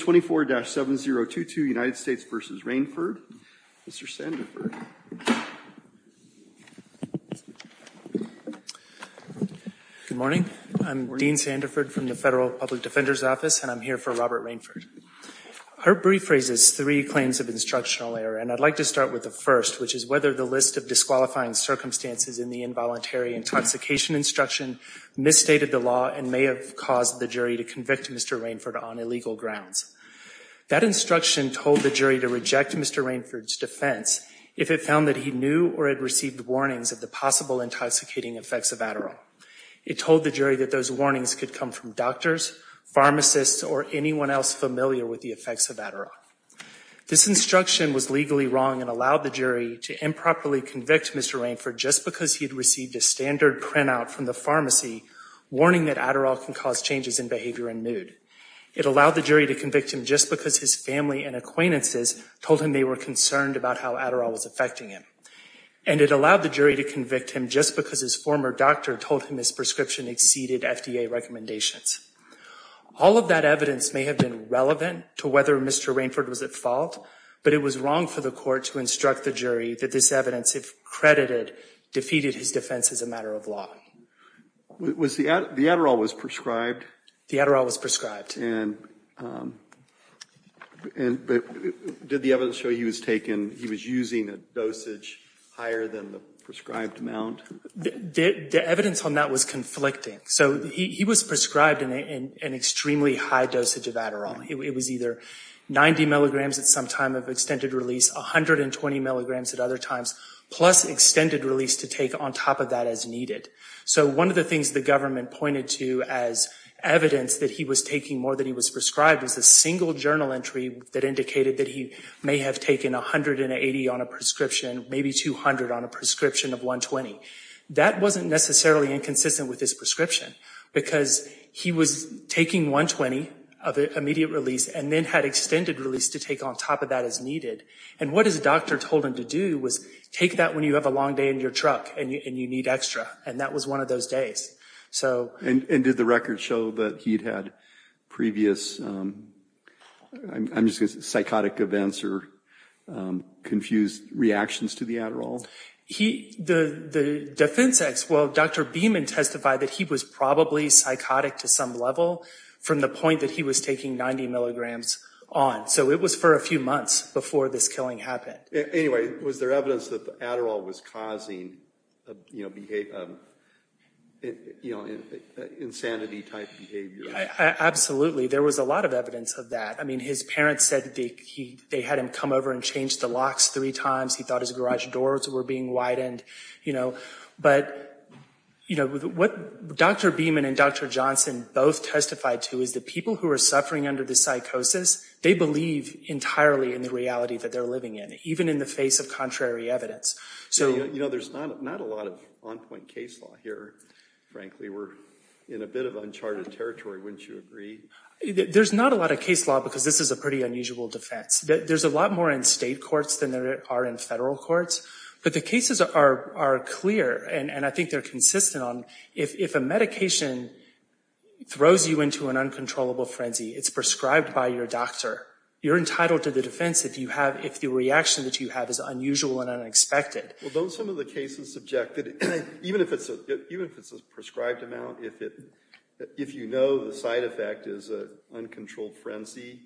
24-7022 United States v. Rainford. Mr. Sandiford. Good morning. I'm Dean Sandiford from the Federal Public Defender's Office and I'm here for Robert Rainford. Her brief raises three claims of instructional error and I'd like to start with the first, which is whether the list of disqualifying circumstances in the involuntary intoxication instruction misstated the law and may have caused the jury to convict Mr. Rainford on illegal grounds. That instruction told the jury to reject Mr. Rainford's defense if it found that he knew or had received warnings of the possible intoxicating effects of Adderall. It told the jury that those warnings could come from doctors, pharmacists, or anyone else familiar with the effects of Adderall. This instruction was legally wrong and allowed the jury to improperly convict Mr. Rainford just because he had received a standard printout from the pharmacy warning that Adderall can cause changes in behavior and mood. It allowed the jury to convict him just because his family and acquaintances told him they were concerned about how Adderall was affecting him. And it allowed the jury to convict him just because his former doctor told him his prescription exceeded FDA recommendations. All of that evidence may have been relevant to whether Mr. Rainford was at fault, but it was wrong for the court to instruct the jury that this evidence, if credited, defeated his defense as a matter of law. The Adderall was prescribed? The Adderall was prescribed. Did the evidence show he was taking, he was using a dosage higher than the prescribed amount? The evidence on that was conflicting. So he was prescribed an extremely high dosage of Adderall. It was either 90 milligrams at some time of extended release, 120 milligrams at other times, plus extended release to take on top of that as needed. So one of the things the government pointed to as evidence that he was taking more than he was prescribed was a single journal entry that indicated that he may have taken 180 on a prescription, maybe 200 on a prescription of 120. That wasn't necessarily inconsistent with his prescription because he was taking 120 of immediate release and then had extended release to take on top of that as needed. And what his doctor told him to do was take that when you have a long day in your truck and you need extra. And that was one of those days. And did the record show that he'd had previous, I'm just going to say psychotic events or confused reactions to the Adderall? The defense, well, Dr. Beeman testified that he was probably psychotic to some level from the point that he was taking 90 milligrams on. So it was for a few months before this killing happened. Anyway, was there evidence that the Adderall was causing, you know, insanity-type behavior? Absolutely. There was a lot of evidence of that. I mean, his parents said they had him come over and change the locks three times. He thought his garage doors were being widened, you know. But, you know, what Dr. Beeman and Dr. Johnson both testified to is that people who are suffering under this psychosis, they believe entirely in the reality that they're living in, even in the face of contrary evidence. So, you know, there's not a lot of on-point case law here, frankly. We're in a bit of uncharted territory, wouldn't you agree? There's not a lot of case law because this is a pretty unusual defense. There's a lot more in state courts than there are in federal courts. But the cases are clear, and I think they're consistent on, if a medication throws you into an uncontrollable frenzy, it's prescribed by your doctor. You're entitled to the defense if you have—if the reaction that you have is unusual and unexpected. Well, don't some of the cases subject—even if it's a prescribed amount, if you know the side effect is an uncontrolled frenzy,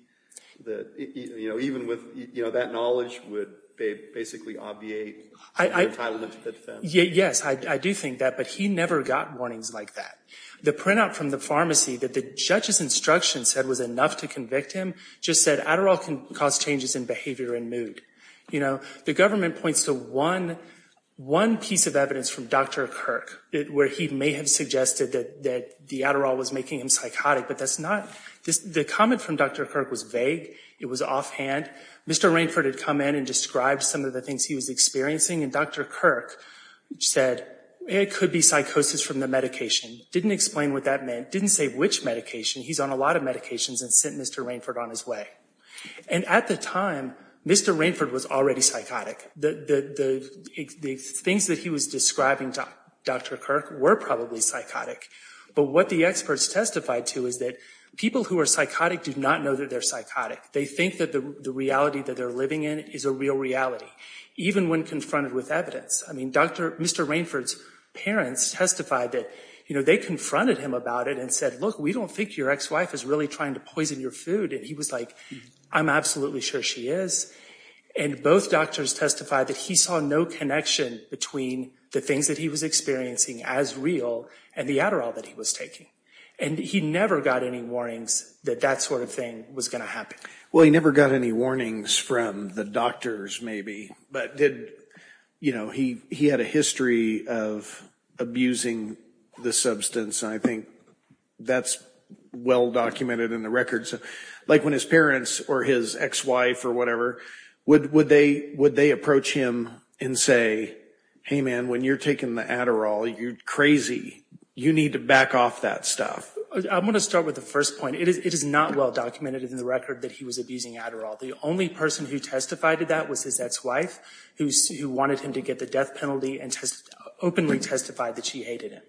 that, you know, even with—you know, that knowledge would basically obviate your entitlement to the defense. Yes, I do think that, but he never got warnings like that. The printout from the pharmacy that the judge's instruction said was enough to convict him just said Adderall can cause changes in behavior and mood. You know, the government points to one piece of evidence from Dr. Kirk where he may have suggested that the Adderall was making him psychotic, but that's not—the comment from Dr. Kirk was vague. It was offhand. Mr. Rainford had come in and described some of the things he was experiencing, and Dr. Kirk said it could be psychosis from the medication, didn't explain what that meant, didn't say which medication. He's on a lot of medications and sent Mr. Rainford on his way. And at the time, Mr. Rainford was already psychotic. The things that he was describing to Dr. Kirk were probably psychotic, but what the experts testified to is that people who are psychotic do not know that they're psychotic. They think that the reality that they're living in is a real reality, even when confronted with evidence. I mean, Dr.—Mr. Rainford's parents testified that, you know, they confronted him about it and said, look, we don't think your ex-wife is really trying to poison your food. And he was like, I'm absolutely sure she is. And both doctors testified that he saw no connection between the things that he was experiencing as real and the Adderall that he was taking. And he never got any warnings that that sort of thing was going to happen. Well, he never got any warnings from the doctors, maybe, but did—you know, he had a history of abusing the substance. I think that's well-documented in the records. Like when his parents or his ex-wife or whatever, would they approach him and say, hey man, when you're taking the Adderall, you're crazy. You need to back off that stuff. I'm going to start with the first point. It is not well-documented in the record that he was abusing Adderall. The only person who testified to that was his ex-wife, who wanted him to get the death penalty and openly testified that she hated him.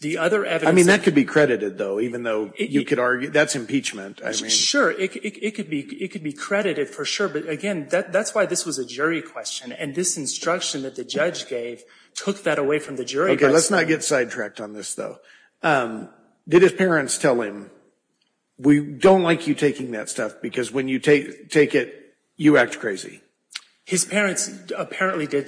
The other evidence— I mean, that could be credited, though, even though you could argue—that's impeachment. Sure, it could be credited for sure. But again, that's why this was a jury question. And this instruction that the judge gave took that away from the jury. Okay, let's not get sidetracked on this, though. Did his parents tell him, we don't like you taking that stuff because when you take it, you act crazy? His parents apparently did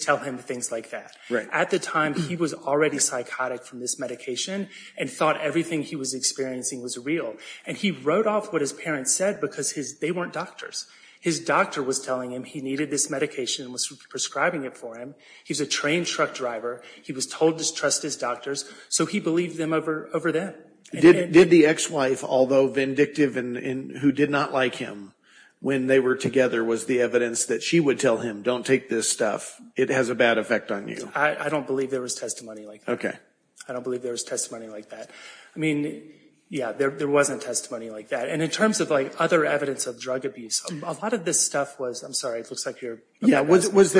tell him things like that. At the time, he was already psychotic from this medication and thought everything he was experiencing was real. And he wrote off what his parents said because they weren't doctors. His doctor was telling him he needed this medication and was prescribing it for him. He's a trained truck driver. He was told to trust his doctors, so he believed them over them. Did the ex-wife, although vindictive and who did not like him, when they were together was the evidence that she would tell him, don't take this stuff, it has a bad effect on you? I don't believe there was testimony like that. I don't believe there was testimony like that. I mean, yeah, there wasn't testimony like that. And in terms of other evidence of drug abuse, a lot of this stuff was—I'm sorry, it looks like you're— Was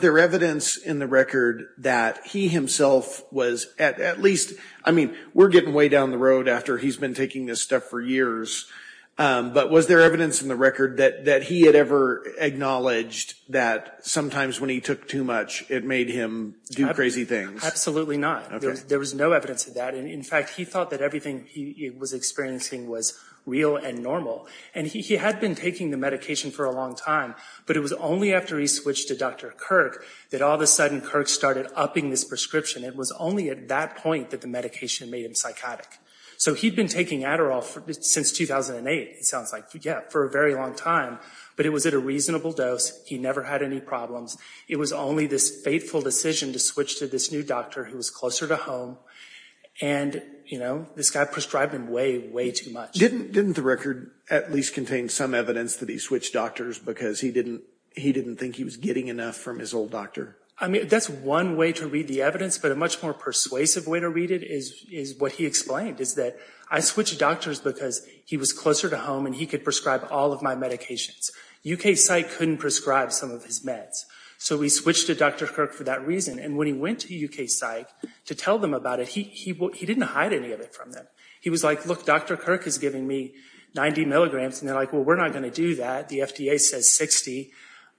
there evidence in the record that he himself was at least—I mean, we're getting way down the road after he's been taking this stuff for years—but was there evidence in the record that he had ever acknowledged that sometimes when he took too much it made him do crazy things? Absolutely not. There was no evidence of that. In fact, he thought that everything he was experiencing was real and normal. And he had been taking the medication for a long time, but it was only after he switched to Dr. Kirk that all of a sudden Kirk started upping this prescription. It was only at that point that the medication made him psychotic. So he'd been taking Adderall since 2008, it sounds like, for a very long time, but it was at a reasonable dose. He never had any problems. It was only this fateful decision to switch to this new doctor who was closer to home, and this guy prescribed him way, way too much. Didn't the record at least contain some evidence that he switched doctors because he didn't think he was getting enough from his old doctor? I mean, that's one way to read the evidence, but a much more persuasive way to read it is what he explained, is that, I switched doctors because he was closer to home and he could prescribe all of my medications. UK Psych couldn't prescribe some of his meds. So he switched to Dr. Kirk for that reason. And when he went to UK Psych to tell them about it, he didn't hide any of it from them. He was like, look, Dr. Kirk is giving me 90 milligrams, and they're like, well, we're not going to do that. The FDA says 60.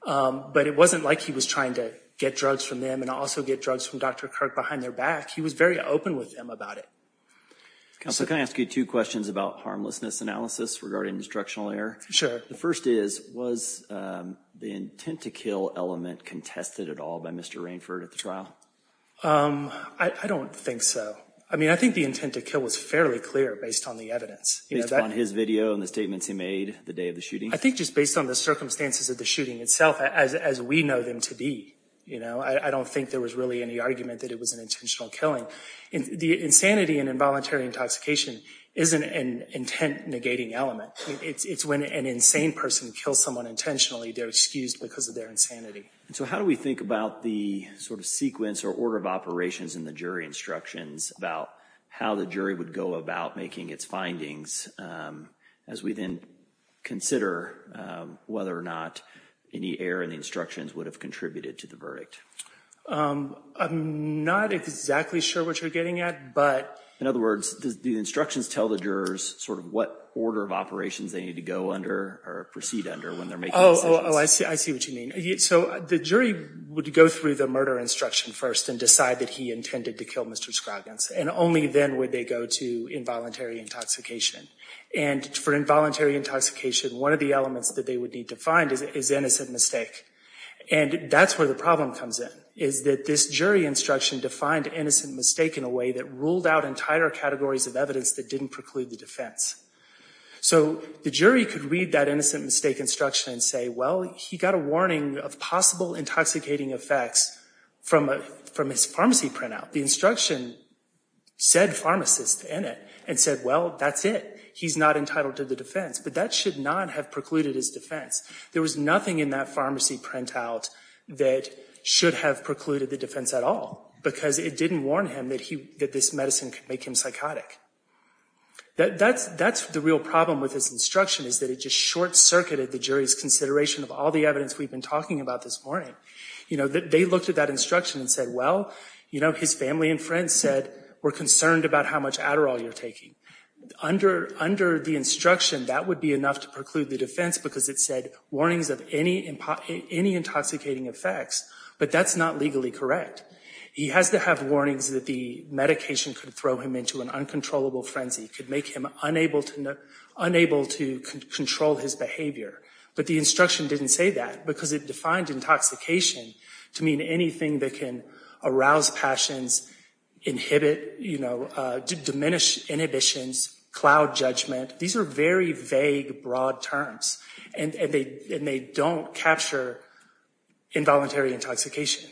But it wasn't like he was trying to get drugs from them and also get drugs from Dr. Kirk behind their back. He was very open with them about it. Counselor, can I ask you two questions about harmlessness analysis regarding destructional error? Sure. The first is, was the intent to kill element contested at all by Mr. Rainford at the trial? I don't think so. I mean, I think the intent to kill was fairly clear based on the evidence. Based on his video and the statements he made the day of the shooting? I think just based on the circumstances of the shooting itself, as we know them to be, you know, I don't think there was really any argument that it was an intentional killing. The insanity and involuntary intoxication isn't an intent negating element. It's when an insane person kills someone intentionally, they're excused because of their insanity. So how do we think about the sort of sequence or order of operations in the jury instructions about how the jury would go about making its findings as we then consider whether or not any error in the instructions would have contributed to the verdict? I'm not exactly sure what you're getting at, but... In other words, do the instructions tell the jurors sort of what order of operations they need to go under or proceed under when they're making decisions? Oh, I see what you mean. So the jury would go through the murder instruction first and decide that he intended to kill Mr. Scroggins, and only then would they go to involuntary intoxication. And for involuntary intoxication, one of the elements that they would need to find is innocent mistake. And that's where the problem comes in, is that this jury instruction defined innocent mistake in a way that ruled out entire categories of evidence that didn't preclude the defense. So the jury could read that innocent mistake instruction and say, well, he got a warning of possible intoxicating effects from his pharmacy printout. The instruction said pharmacist in it and said, well, that's it. He's not entitled to the defense. But that should not have precluded his defense. There was nothing in that pharmacy printout that should have precluded the defense at all, because it didn't warn him that this medicine could make him psychotic. That's the real problem with this instruction, is that it just short-circuited the jury's consideration of all the evidence we've been talking about this morning. You know, they looked at that instruction and said, well, you know, his family and friends said, we're concerned about how much Adderall you're taking. Under the instruction, that would be enough to preclude the defense, because it said, warnings of any intoxicating effects. But that's not legally correct. He has to have warnings that the medication could throw him into an uncontrollable frenzy, could make him unable to control his behavior. But the instruction didn't say that, because it defined intoxication to mean anything that can arouse passions, inhibit, you know, diminish inhibitions, cloud judgment. These are very vague, broad terms, and they don't capture involuntary intoxication.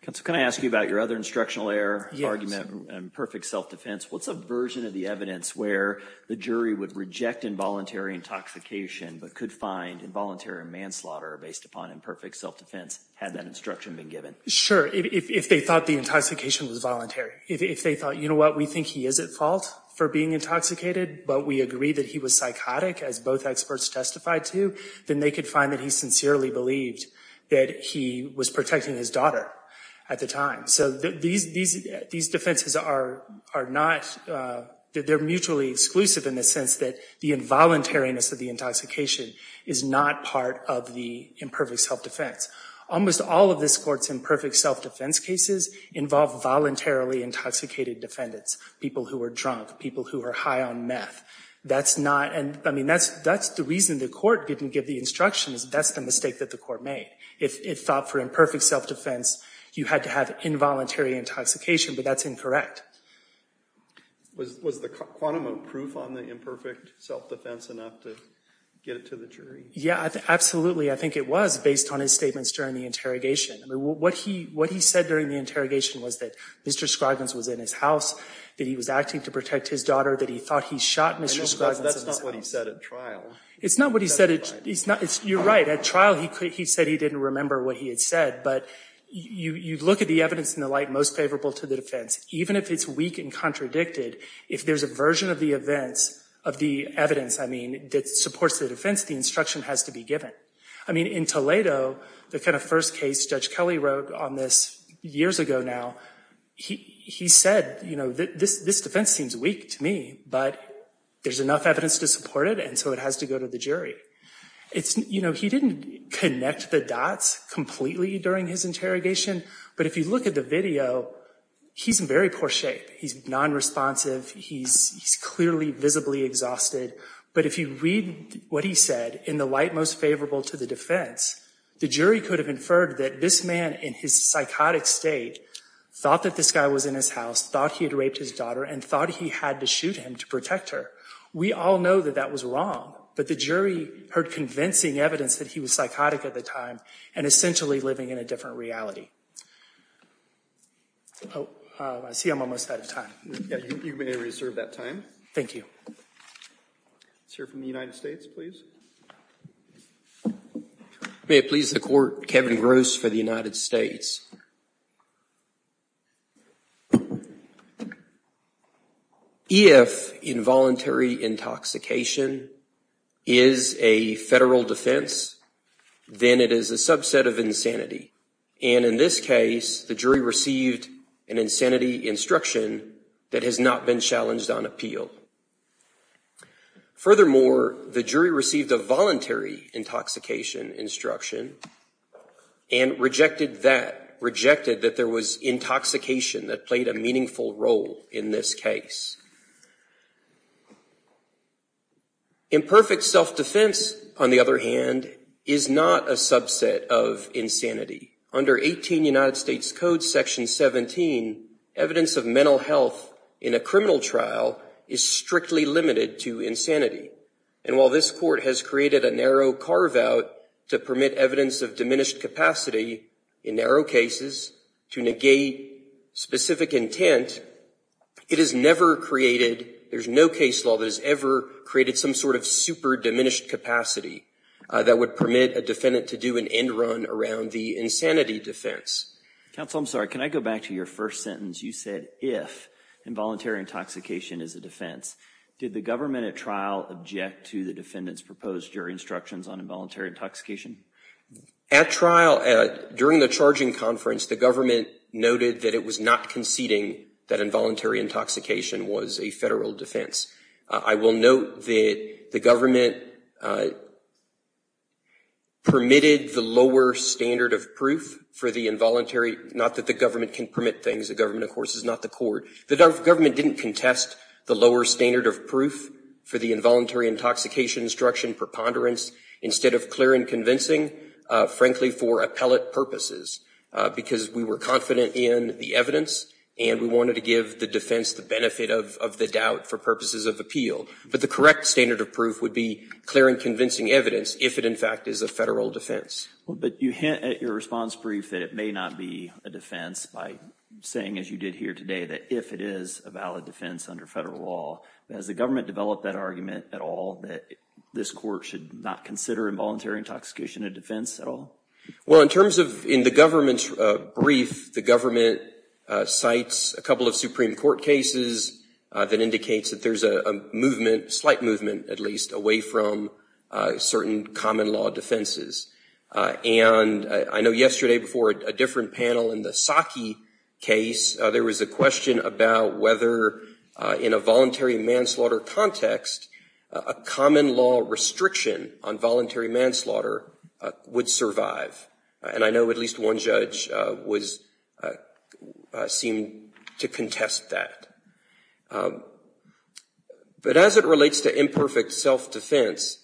Counsel, can I ask you about your other instructional error argument, imperfect self-defense? What's a version of the evidence where the jury would reject involuntary intoxication, but could find involuntary manslaughter based upon imperfect self-defense, had that instruction been given? Sure. If they thought the intoxication was voluntary. If they thought, you know what, we think he is at fault for being intoxicated, but we agree that he was psychotic, as both protecting his daughter at the time. So these defenses are not, they're mutually exclusive in the sense that the involuntariness of the intoxication is not part of the imperfect self-defense. Almost all of this Court's imperfect self-defense cases involve voluntarily intoxicated defendants, people who are drunk, people who are high on meth. That's not, I mean, that's the reason the Court didn't give the instruction, is that's the mistake that the Court made. If it thought for imperfect self-defense, you had to have involuntary intoxication, but that's incorrect. Was the quantum of proof on the imperfect self-defense enough to get it to the jury? Yeah, absolutely. I think it was based on his statements during the interrogation. What he said during the interrogation was that Mr. Scroggins was in his house, that he was acting to protect his daughter, that he thought he shot Mr. Scroggins. That's not what he said at trial. It's not what he said. You're right. At trial, he said he didn't remember what he had said, but you look at the evidence in the light most favorable to the defense, even if it's weak and contradicted, if there's a version of the evidence, I mean, that supports the defense, the instruction has to be given. I mean, in Toledo, the kind of first case Judge Kelly wrote on this years ago now, he said, you know, this defense seems weak to me, but there's enough evidence to support it, and so it has to go to the jury. You know, he didn't connect the dots completely during his interrogation, but if you look at the video, he's in very poor shape. He's non-responsive. He's clearly visibly exhausted, but if you read what he said in the light most favorable to the defense, the jury could have inferred that this man in his psychotic state thought that this guy was in his house, thought he had raped his daughter, and thought he had to shoot him to protect her. We all know that that was wrong, but the jury heard convincing evidence that he was psychotic at the time, and essentially living in a different reality. Oh, I see I'm almost out of time. Yeah, you may reserve that time. Thank you. Let's hear from the United States, please. May it please the Court, Kevin Gross for the United States. If involuntary intoxication is a federal defense, then it is a subset of insanity, and in this case, the jury received an insanity instruction that has not been challenged on appeal. Furthermore, the jury received a voluntary intoxication instruction and rejected that. Rejected that there was intoxication that played a meaningful role in this case. Imperfect self-defense, on the other hand, is not a subset of insanity. Under 18 United States Code Section 17, evidence of mental health in a criminal trial is strictly limited to insanity, and while this court has created a narrow carve-out to permit evidence of diminished capacity in narrow cases to negate specific intent, it has never created, there's no case law that has ever created some sort of super diminished capacity that would permit a defendant to do an end run around the insanity defense. Counsel, I'm sorry, can I go back to your first sentence? You said if involuntary intoxication is a defense. Did the government at trial object to the defendant's proposed jury instructions on involuntary intoxication? At trial, during the charging conference, the government noted that it was not conceding that involuntary intoxication was a federal defense. I will note that the government permitted the lower standard of proof for the involuntary, not that the government can permit things, the government, of course, is not the court. The government didn't contest the lower standard of proof for the involuntary intoxication instruction preponderance instead of clear and convincing, frankly, for appellate purposes, because we were confident in the evidence and we wanted to give the defense the benefit of the doubt for purposes of appeal. But the correct standard of proof would be clear and convincing evidence if it, in fact, is a federal defense. But you hint at your response brief that it may not be a defense by saying, as you did here today, that if it is a valid defense under federal law. Has the government developed that argument at all that this court should not consider involuntary intoxication a defense at all? Well, in terms of in the government's brief, the government cites a couple of Supreme Court cases that indicates that there's a movement, slight movement at least, away from certain common law defenses. And I know yesterday before a different panel in the Psaki case, there was a question about whether in a voluntary manslaughter context, a common law restriction on voluntary manslaughter would survive. And I know at least one judge seemed to contest that. But as it relates to imperfect self-defense,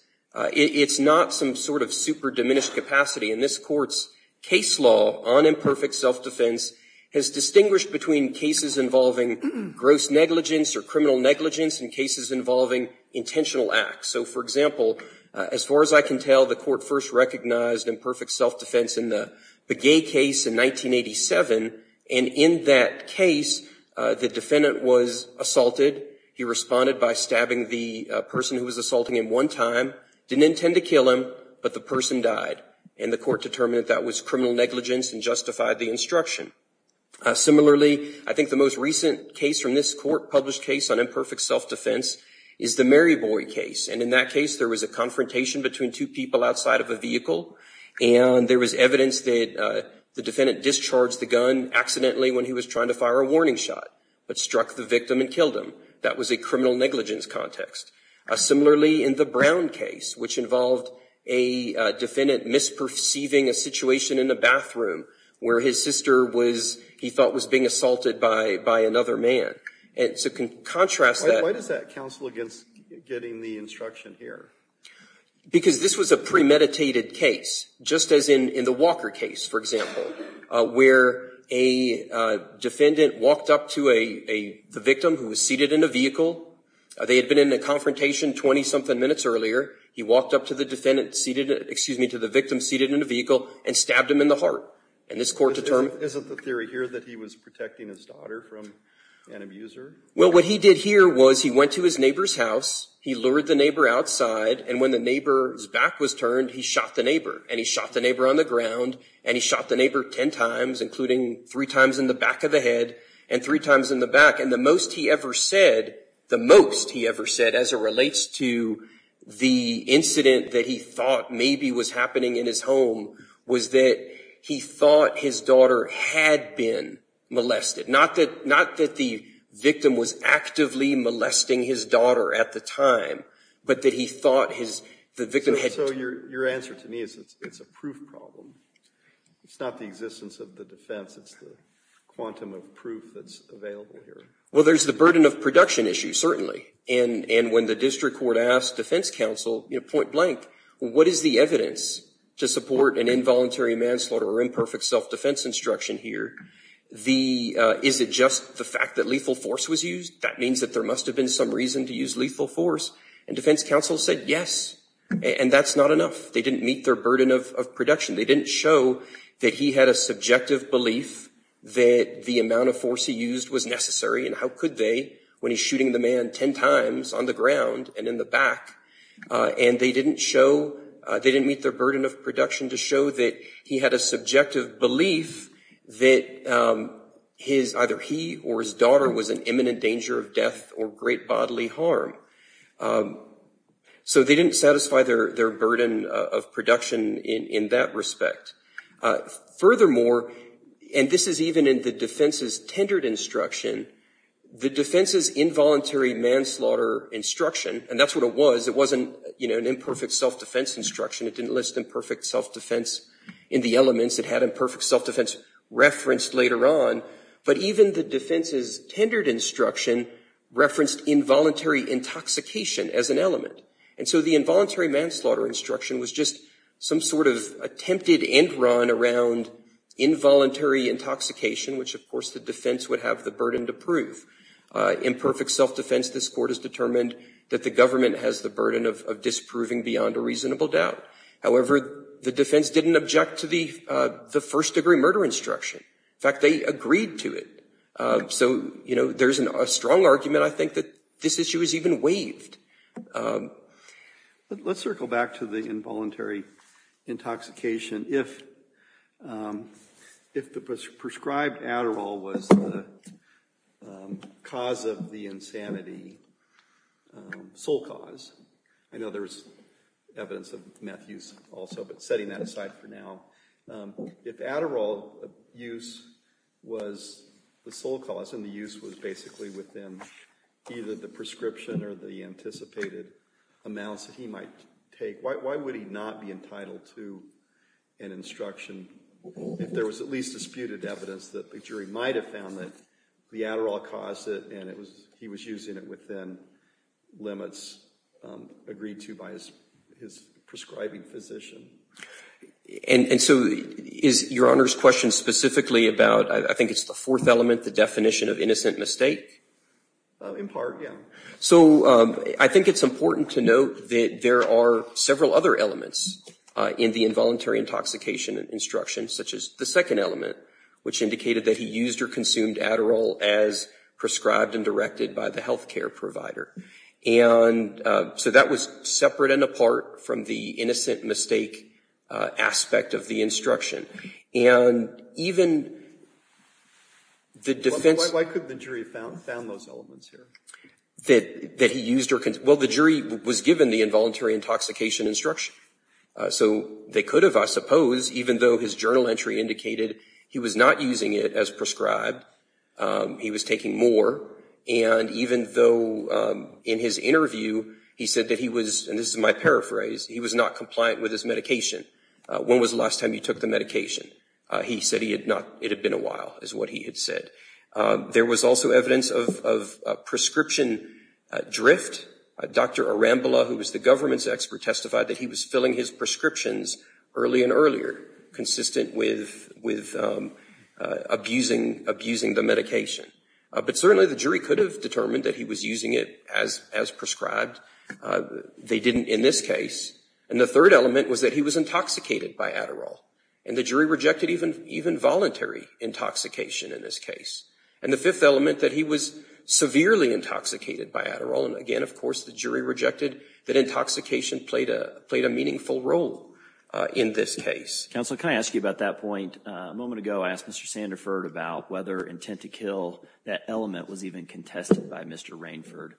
it's not some sort of super diminished capacity. And this court's case law on imperfect self-defense has distinguished between cases involving gross negligence or criminal negligence and cases involving intentional acts. So, for example, as far as I can tell, the court first recognized imperfect self-defense in the Begay case in 1987. And in that case, the defendant was, in fact, was assaulted. He responded by stabbing the person who was assaulting him one time, didn't intend to kill him, but the person died. And the court determined that that was criminal negligence and justified the instruction. Similarly, I think the most recent case from this court, published case on imperfect self-defense, is the Mary Boy case. And in that case, there was a confrontation between two people outside of a vehicle. And there was evidence that the defendant discharged the gun accidentally when he was trying to fire a warning shot, but struck the victim and killed him. That was a criminal negligence context. Similarly, in the Brown case, which involved a defendant misperceiving a situation in the bathroom where his sister was, he thought, was being assaulted by another man. And so to contrast that... Why does that counsel against getting the instruction here? Because this was a premeditated case, just as in the Walker case, for example, where a defendant walked up to a victim who was seated in a vehicle. They had been in a confrontation 20-something minutes earlier. He walked up to the victim seated in a vehicle and stabbed him in the heart. And this court determined... Isn't the theory here that he was protecting his daughter from an abuser? Well, what he did here was he went to his neighbor's house. He lured the neighbor outside. And when the neighbor's back was turned, he shot the neighbor. And he shot the neighbor on the ground. And he shot the neighbor 10 times, including three times in the back of the head and three times in the back. And the most he ever said, the most he ever said as it relates to the incident that he thought maybe was happening in his home, was that he thought his daughter had been molested. Not that the victim was actively molesting his daughter at the time, but that he thought the victim had... So your answer to me is it's a proof problem. It's not the existence of the defense. It's the quantum of proof that's available here. Well, there's the burden of production issue, certainly. And when the district court asked defense counsel, point blank, what is the evidence to support an involuntary manslaughter or imperfect self-defense instruction here? Is it just the fact that lethal force was used? That means that there must have been some reason to use lethal force. And defense counsel said yes. And that's not enough. They didn't meet their burden of production. They didn't show that he had a subjective belief that the amount of force he used was necessary. And how could they when he's shooting the man 10 times on the ground and in the back? And they didn't meet their burden of production to show that he had a subjective belief that either he or his daughter was in imminent danger of death or great bodily harm. So they didn't satisfy their burden of production in that respect. Furthermore, and this is even in the defense's tendered instruction, the defense's involuntary manslaughter instruction, and that's what it was, it wasn't an imperfect self-defense instruction. It didn't list imperfect self-defense in the elements. It had imperfect self-defense referenced later on. But even the defense's tendered instruction referenced involuntary intoxication as an element. And so the involuntary manslaughter instruction was just some sort of attempted end-run around involuntary intoxication, which of course the defense would have the burden to prove. Imperfect self-defense, this Court has determined that the government has the burden of disproving beyond a reasonable doubt. However, the defense didn't object to the first-degree murder instruction. In fact, they agreed to it. So there's a strong argument, I think, that this issue is even waived. Let's circle back to the involuntary intoxication. If the prescribed Adderall was the cause of the insanity, sole cause, I know there was evidence of meth use also, but setting that aside for now, if Adderall use was the sole cause and the use was basically within either the prescription or the anticipated amounts that he might take, why would he not be entitled to an instruction if there was at least disputed evidence that the jury might have found that the Adderall caused it and he was using it within limits agreed to by his prescribing physician? And so is Your Honor's question specifically about, I think it's the fourth element, the definition of innocent mistake? In part, yeah. So I think it's important to note that there are several other elements in the involuntary intoxication instruction, such as the second element, which indicated that he used or consumed Adderall as prescribed and directed by the health care provider. And so that was separate and apart from the innocent mistake aspect of the instruction. And even the defense... How could the jury have found those elements here? Well, the jury was given the involuntary intoxication instruction, so they could have, I suppose, even though his journal entry indicated he was not using it as prescribed, he was taking more, and even though in his interview he said that he was, and this is my paraphrase, he was not compliant with his medication. When was the last time you took the medication? He said it had been a while, is what he had said. There was also evidence of prescription drift. Dr. Arambola, who was the government's expert, testified that he was filling his prescriptions early and earlier, consistent with abusing the medication. But certainly the jury could have determined that he was using it as prescribed. They didn't in this case. And the third element was that he was intoxicated by Adderall, and the jury rejected even voluntary intoxication in this case. And the fifth element that he was severely intoxicated by Adderall, and again, of course, the jury rejected that intoxication played a meaningful role in this case. Counsel, can I ask you about that point? A moment ago I asked Mr. Sanderford about whether intent to kill that element was even contested by Mr. Rainford.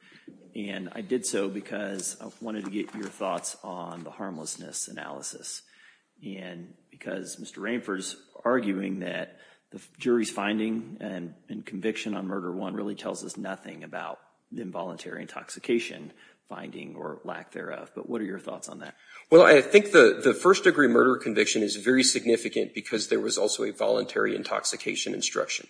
And I did so because I wanted to get your thoughts on the harmlessness analysis. And because Mr. Rainford is arguing that the jury's finding and conviction on murder one really tells us nothing about involuntary intoxication finding or lack thereof. But what are your thoughts on that? Well, I think the first degree murder conviction is very significant because there was also a voluntary intoxication instruction.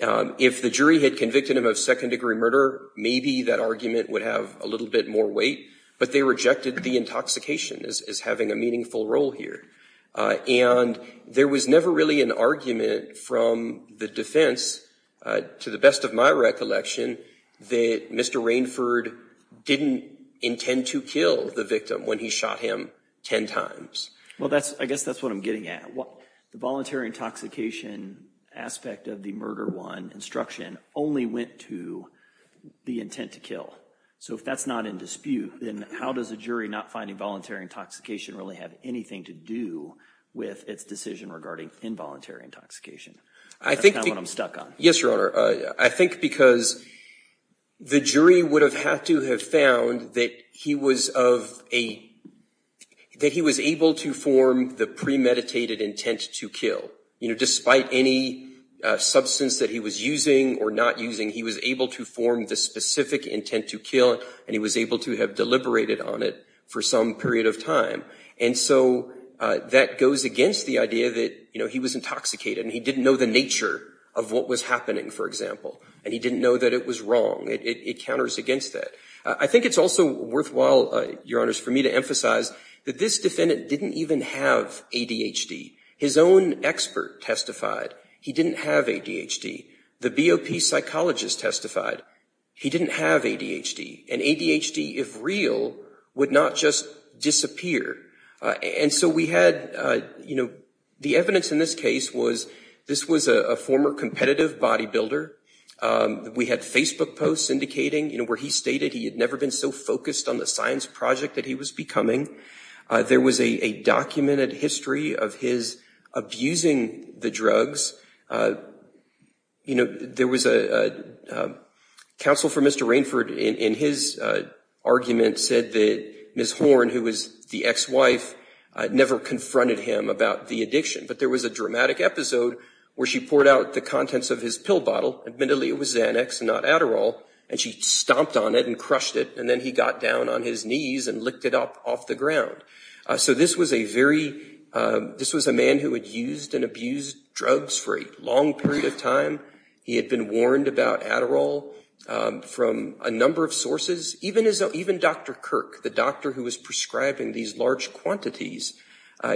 If the jury had convicted him of second degree murder, maybe that argument would have a little bit more weight. But they rejected the intoxication as having a meaningful role here. And there was never really an argument from the defense, to the best of my recollection, that Mr. Rainford didn't intend to kill the victim when he shot him ten times. Well, I guess that's what I'm getting at. The voluntary intoxication aspect of the murder one instruction only went to the intent to kill. So if that's not in dispute, then how does a jury not finding voluntary intoxication really have anything to do with its decision regarding involuntary intoxication? That's kind of what I'm stuck on. Yes, Your Honor. I think because the jury would have had to have found that he was able to form the premeditated intent to kill, despite any substance that he was using or not using, he was able to form the specific intent to kill. And he was able to have deliberated on it for some period of time. And so that goes against the idea that he was intoxicated and he didn't know the nature of what was happening, for example. And he didn't know that it was wrong. It counters against that. I think it's also worthwhile, Your Honors, for me to emphasize that this defendant didn't even have ADHD. His own expert testified he didn't have ADHD. The BOP psychologist testified he didn't have ADHD. And ADHD, if real, would not just disappear. And so we had, you know, the evidence in this case was this was a former competitive bodybuilder. We had Facebook posts indicating, you know, where he stated he had never been so focused on the science project that he was becoming. There was a documented history of his abusing the drugs. You know, there was a counsel for Mr. Rainford in his argument said that Ms. Horn, who was the ex-wife, never confronted him about the addiction. But there was a dramatic episode where she poured out the contents of his pill bottle. Admittedly, it was Xanax, not Adderall. And she stomped on it and crushed it. And then he got down on his knees and licked it up off the ground. So this was a very this was a man who had used and abused drugs for a long period of time. He had been warned about Adderall from a number of sources. Even Dr. Kirk, the doctor who was prescribing these large quantities,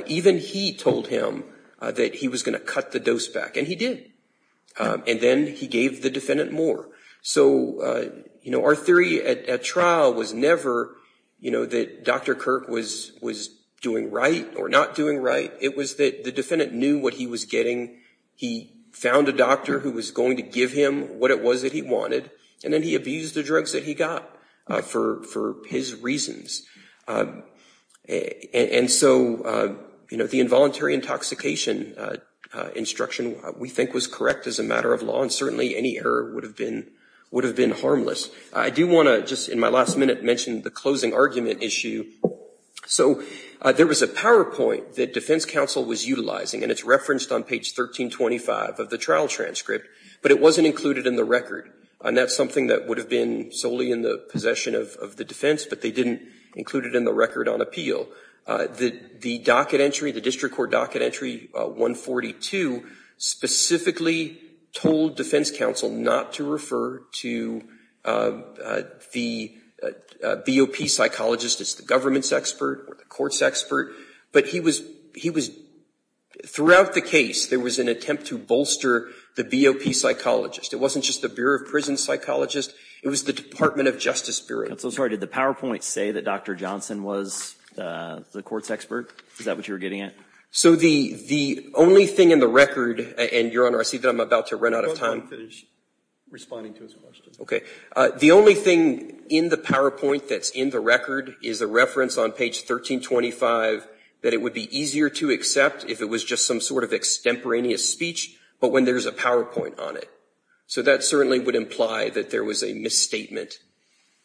even he told him that he was going to cut the dose back. And he did. And then he gave the defendant more. So, you know, our theory at trial was never, you know, that Dr. Kirk was doing right or not doing right. It was that the defendant knew what he was getting. He found a doctor who was going to give him what it was that he wanted. And then he abused the drugs that he got for his reasons. And so, you know, the involuntary intoxication instruction, we think, was correct as a matter of law. And certainly any error would have been would have been harmless. I do want to just in my last minute mention the closing argument issue. So there was a PowerPoint that defense counsel was utilizing, and it's referenced on page 1325 of the trial transcript. But it wasn't included in the record. And that's something that would have been solely in the possession of the defense. But they didn't include it in the record on appeal. The docket entry, the district court docket entry 142 specifically told defense counsel not to refer to the BOP psychologist as the government's expert or the court's expert. But he was he was throughout the case, there was an attempt to bolster the BOP psychologist. It wasn't just the Bureau of Prison psychologist. It was the Department of Justice Bureau. I'm so sorry. Did the PowerPoint say that Dr. Johnson was the court's expert? Is that what you're getting at? So the the only thing in the record and your honor, I see that I'm about to run out of time. Responding to his question. Okay. The only thing in the PowerPoint that's in the record is a reference on page 1325 that it would be easier to accept if it was just some sort of extemporaneous speech. But when there's a PowerPoint on it, so that certainly would imply that there was a misstatement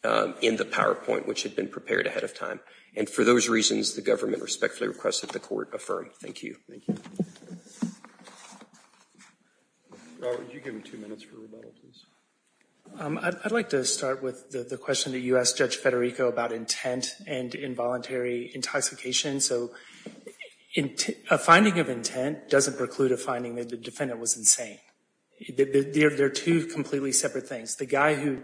in the PowerPoint, which had been prepared ahead of time. And for those reasons, the government respectfully requested the court affirm. Thank you. I'd like to start with the question that you asked Judge Federico about intent and involuntary intoxication. So a finding of intent doesn't preclude a finding that the defendant was insane. They're two completely separate things. The guy who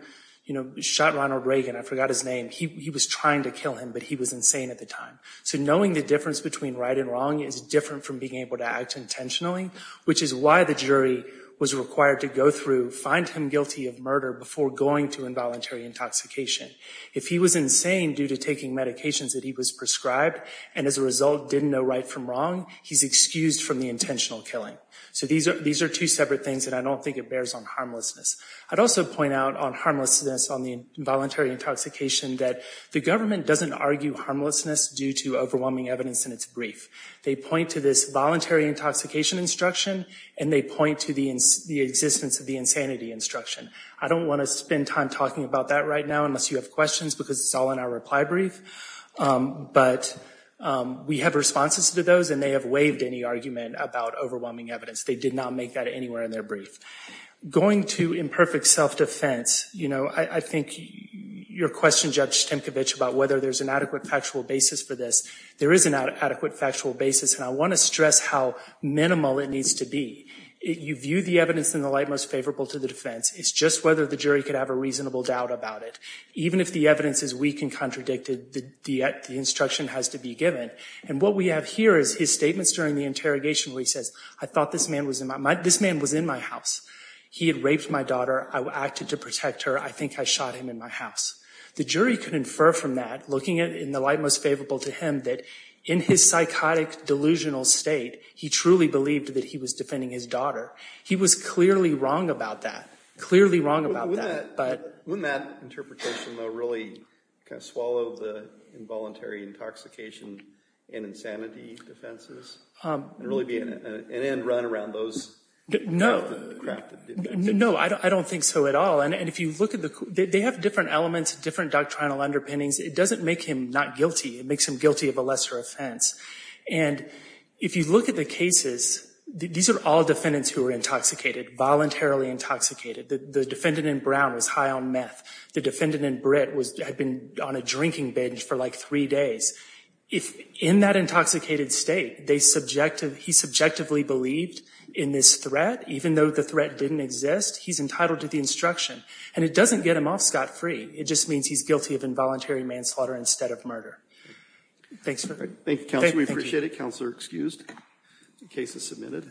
shot Ronald Reagan, I forgot his name, he was trying to kill him, but he was insane at the time. So knowing the difference between right and wrong is different from being able to act intentionally, which is why the jury was required to go through, find him guilty of murder before going to involuntary intoxication. If he was insane due to taking medications that he was prescribed, and as a result didn't know right from wrong, he's excused from the intentional killing. So these are two separate things, and I don't think it bears on harmlessness. I'd also point out on harmlessness on the involuntary intoxication that the government doesn't argue harmlessness due to overwhelming evidence in its brief. They point to this voluntary intoxication instruction, and they point to the existence of the insanity instruction. I don't want to spend time talking about that right now unless you have questions, because it's all in our reply brief, but we have responses to those, and they have waived any argument about overwhelming evidence. They did not make that anywhere in their brief. Going to imperfect self-defense, I think your question, Judge Stemkevich, about whether there's an adequate factual basis for this, there is an adequate factual basis, and I want to stress how minimal it needs to be. You view the evidence in the light most favorable to the defense. It's just whether the jury could have a reasonable doubt about it. Even if the evidence is weak and contradicted, the instruction has to be given. And what we have here is his statements during the interrogation where he says, I thought this man was in my house. He had raped my daughter. I acted to protect her. I think I shot him in my house. The jury could infer from that, looking at it in the light most favorable to him, that in his psychotic, delusional state, he truly believed that he was defending his daughter. He was clearly wrong about that. Clearly wrong about that. Wouldn't that interpretation, though, really kind of swallow the involuntary intoxication and insanity defenses and really be an end run around those? No, I don't think so at all. And if you look at the—they have different elements, different doctrinal underpinnings. It doesn't make him not guilty. It makes him guilty of a lesser offense. And if you look at the cases, these are all defendants who were intoxicated, voluntarily intoxicated. The defendant in Brown was high on meth. The defendant in Britt had been on a drinking binge for like three days. In that intoxicated state, he subjectively believed in this threat, even though the threat didn't exist. He's entitled to the instruction. And it doesn't get him off scot-free. It just means he's guilty of involuntary manslaughter instead of murder. Thanks. Thank you, Counselor. We appreciate it. Counselor excused. The case is submitted.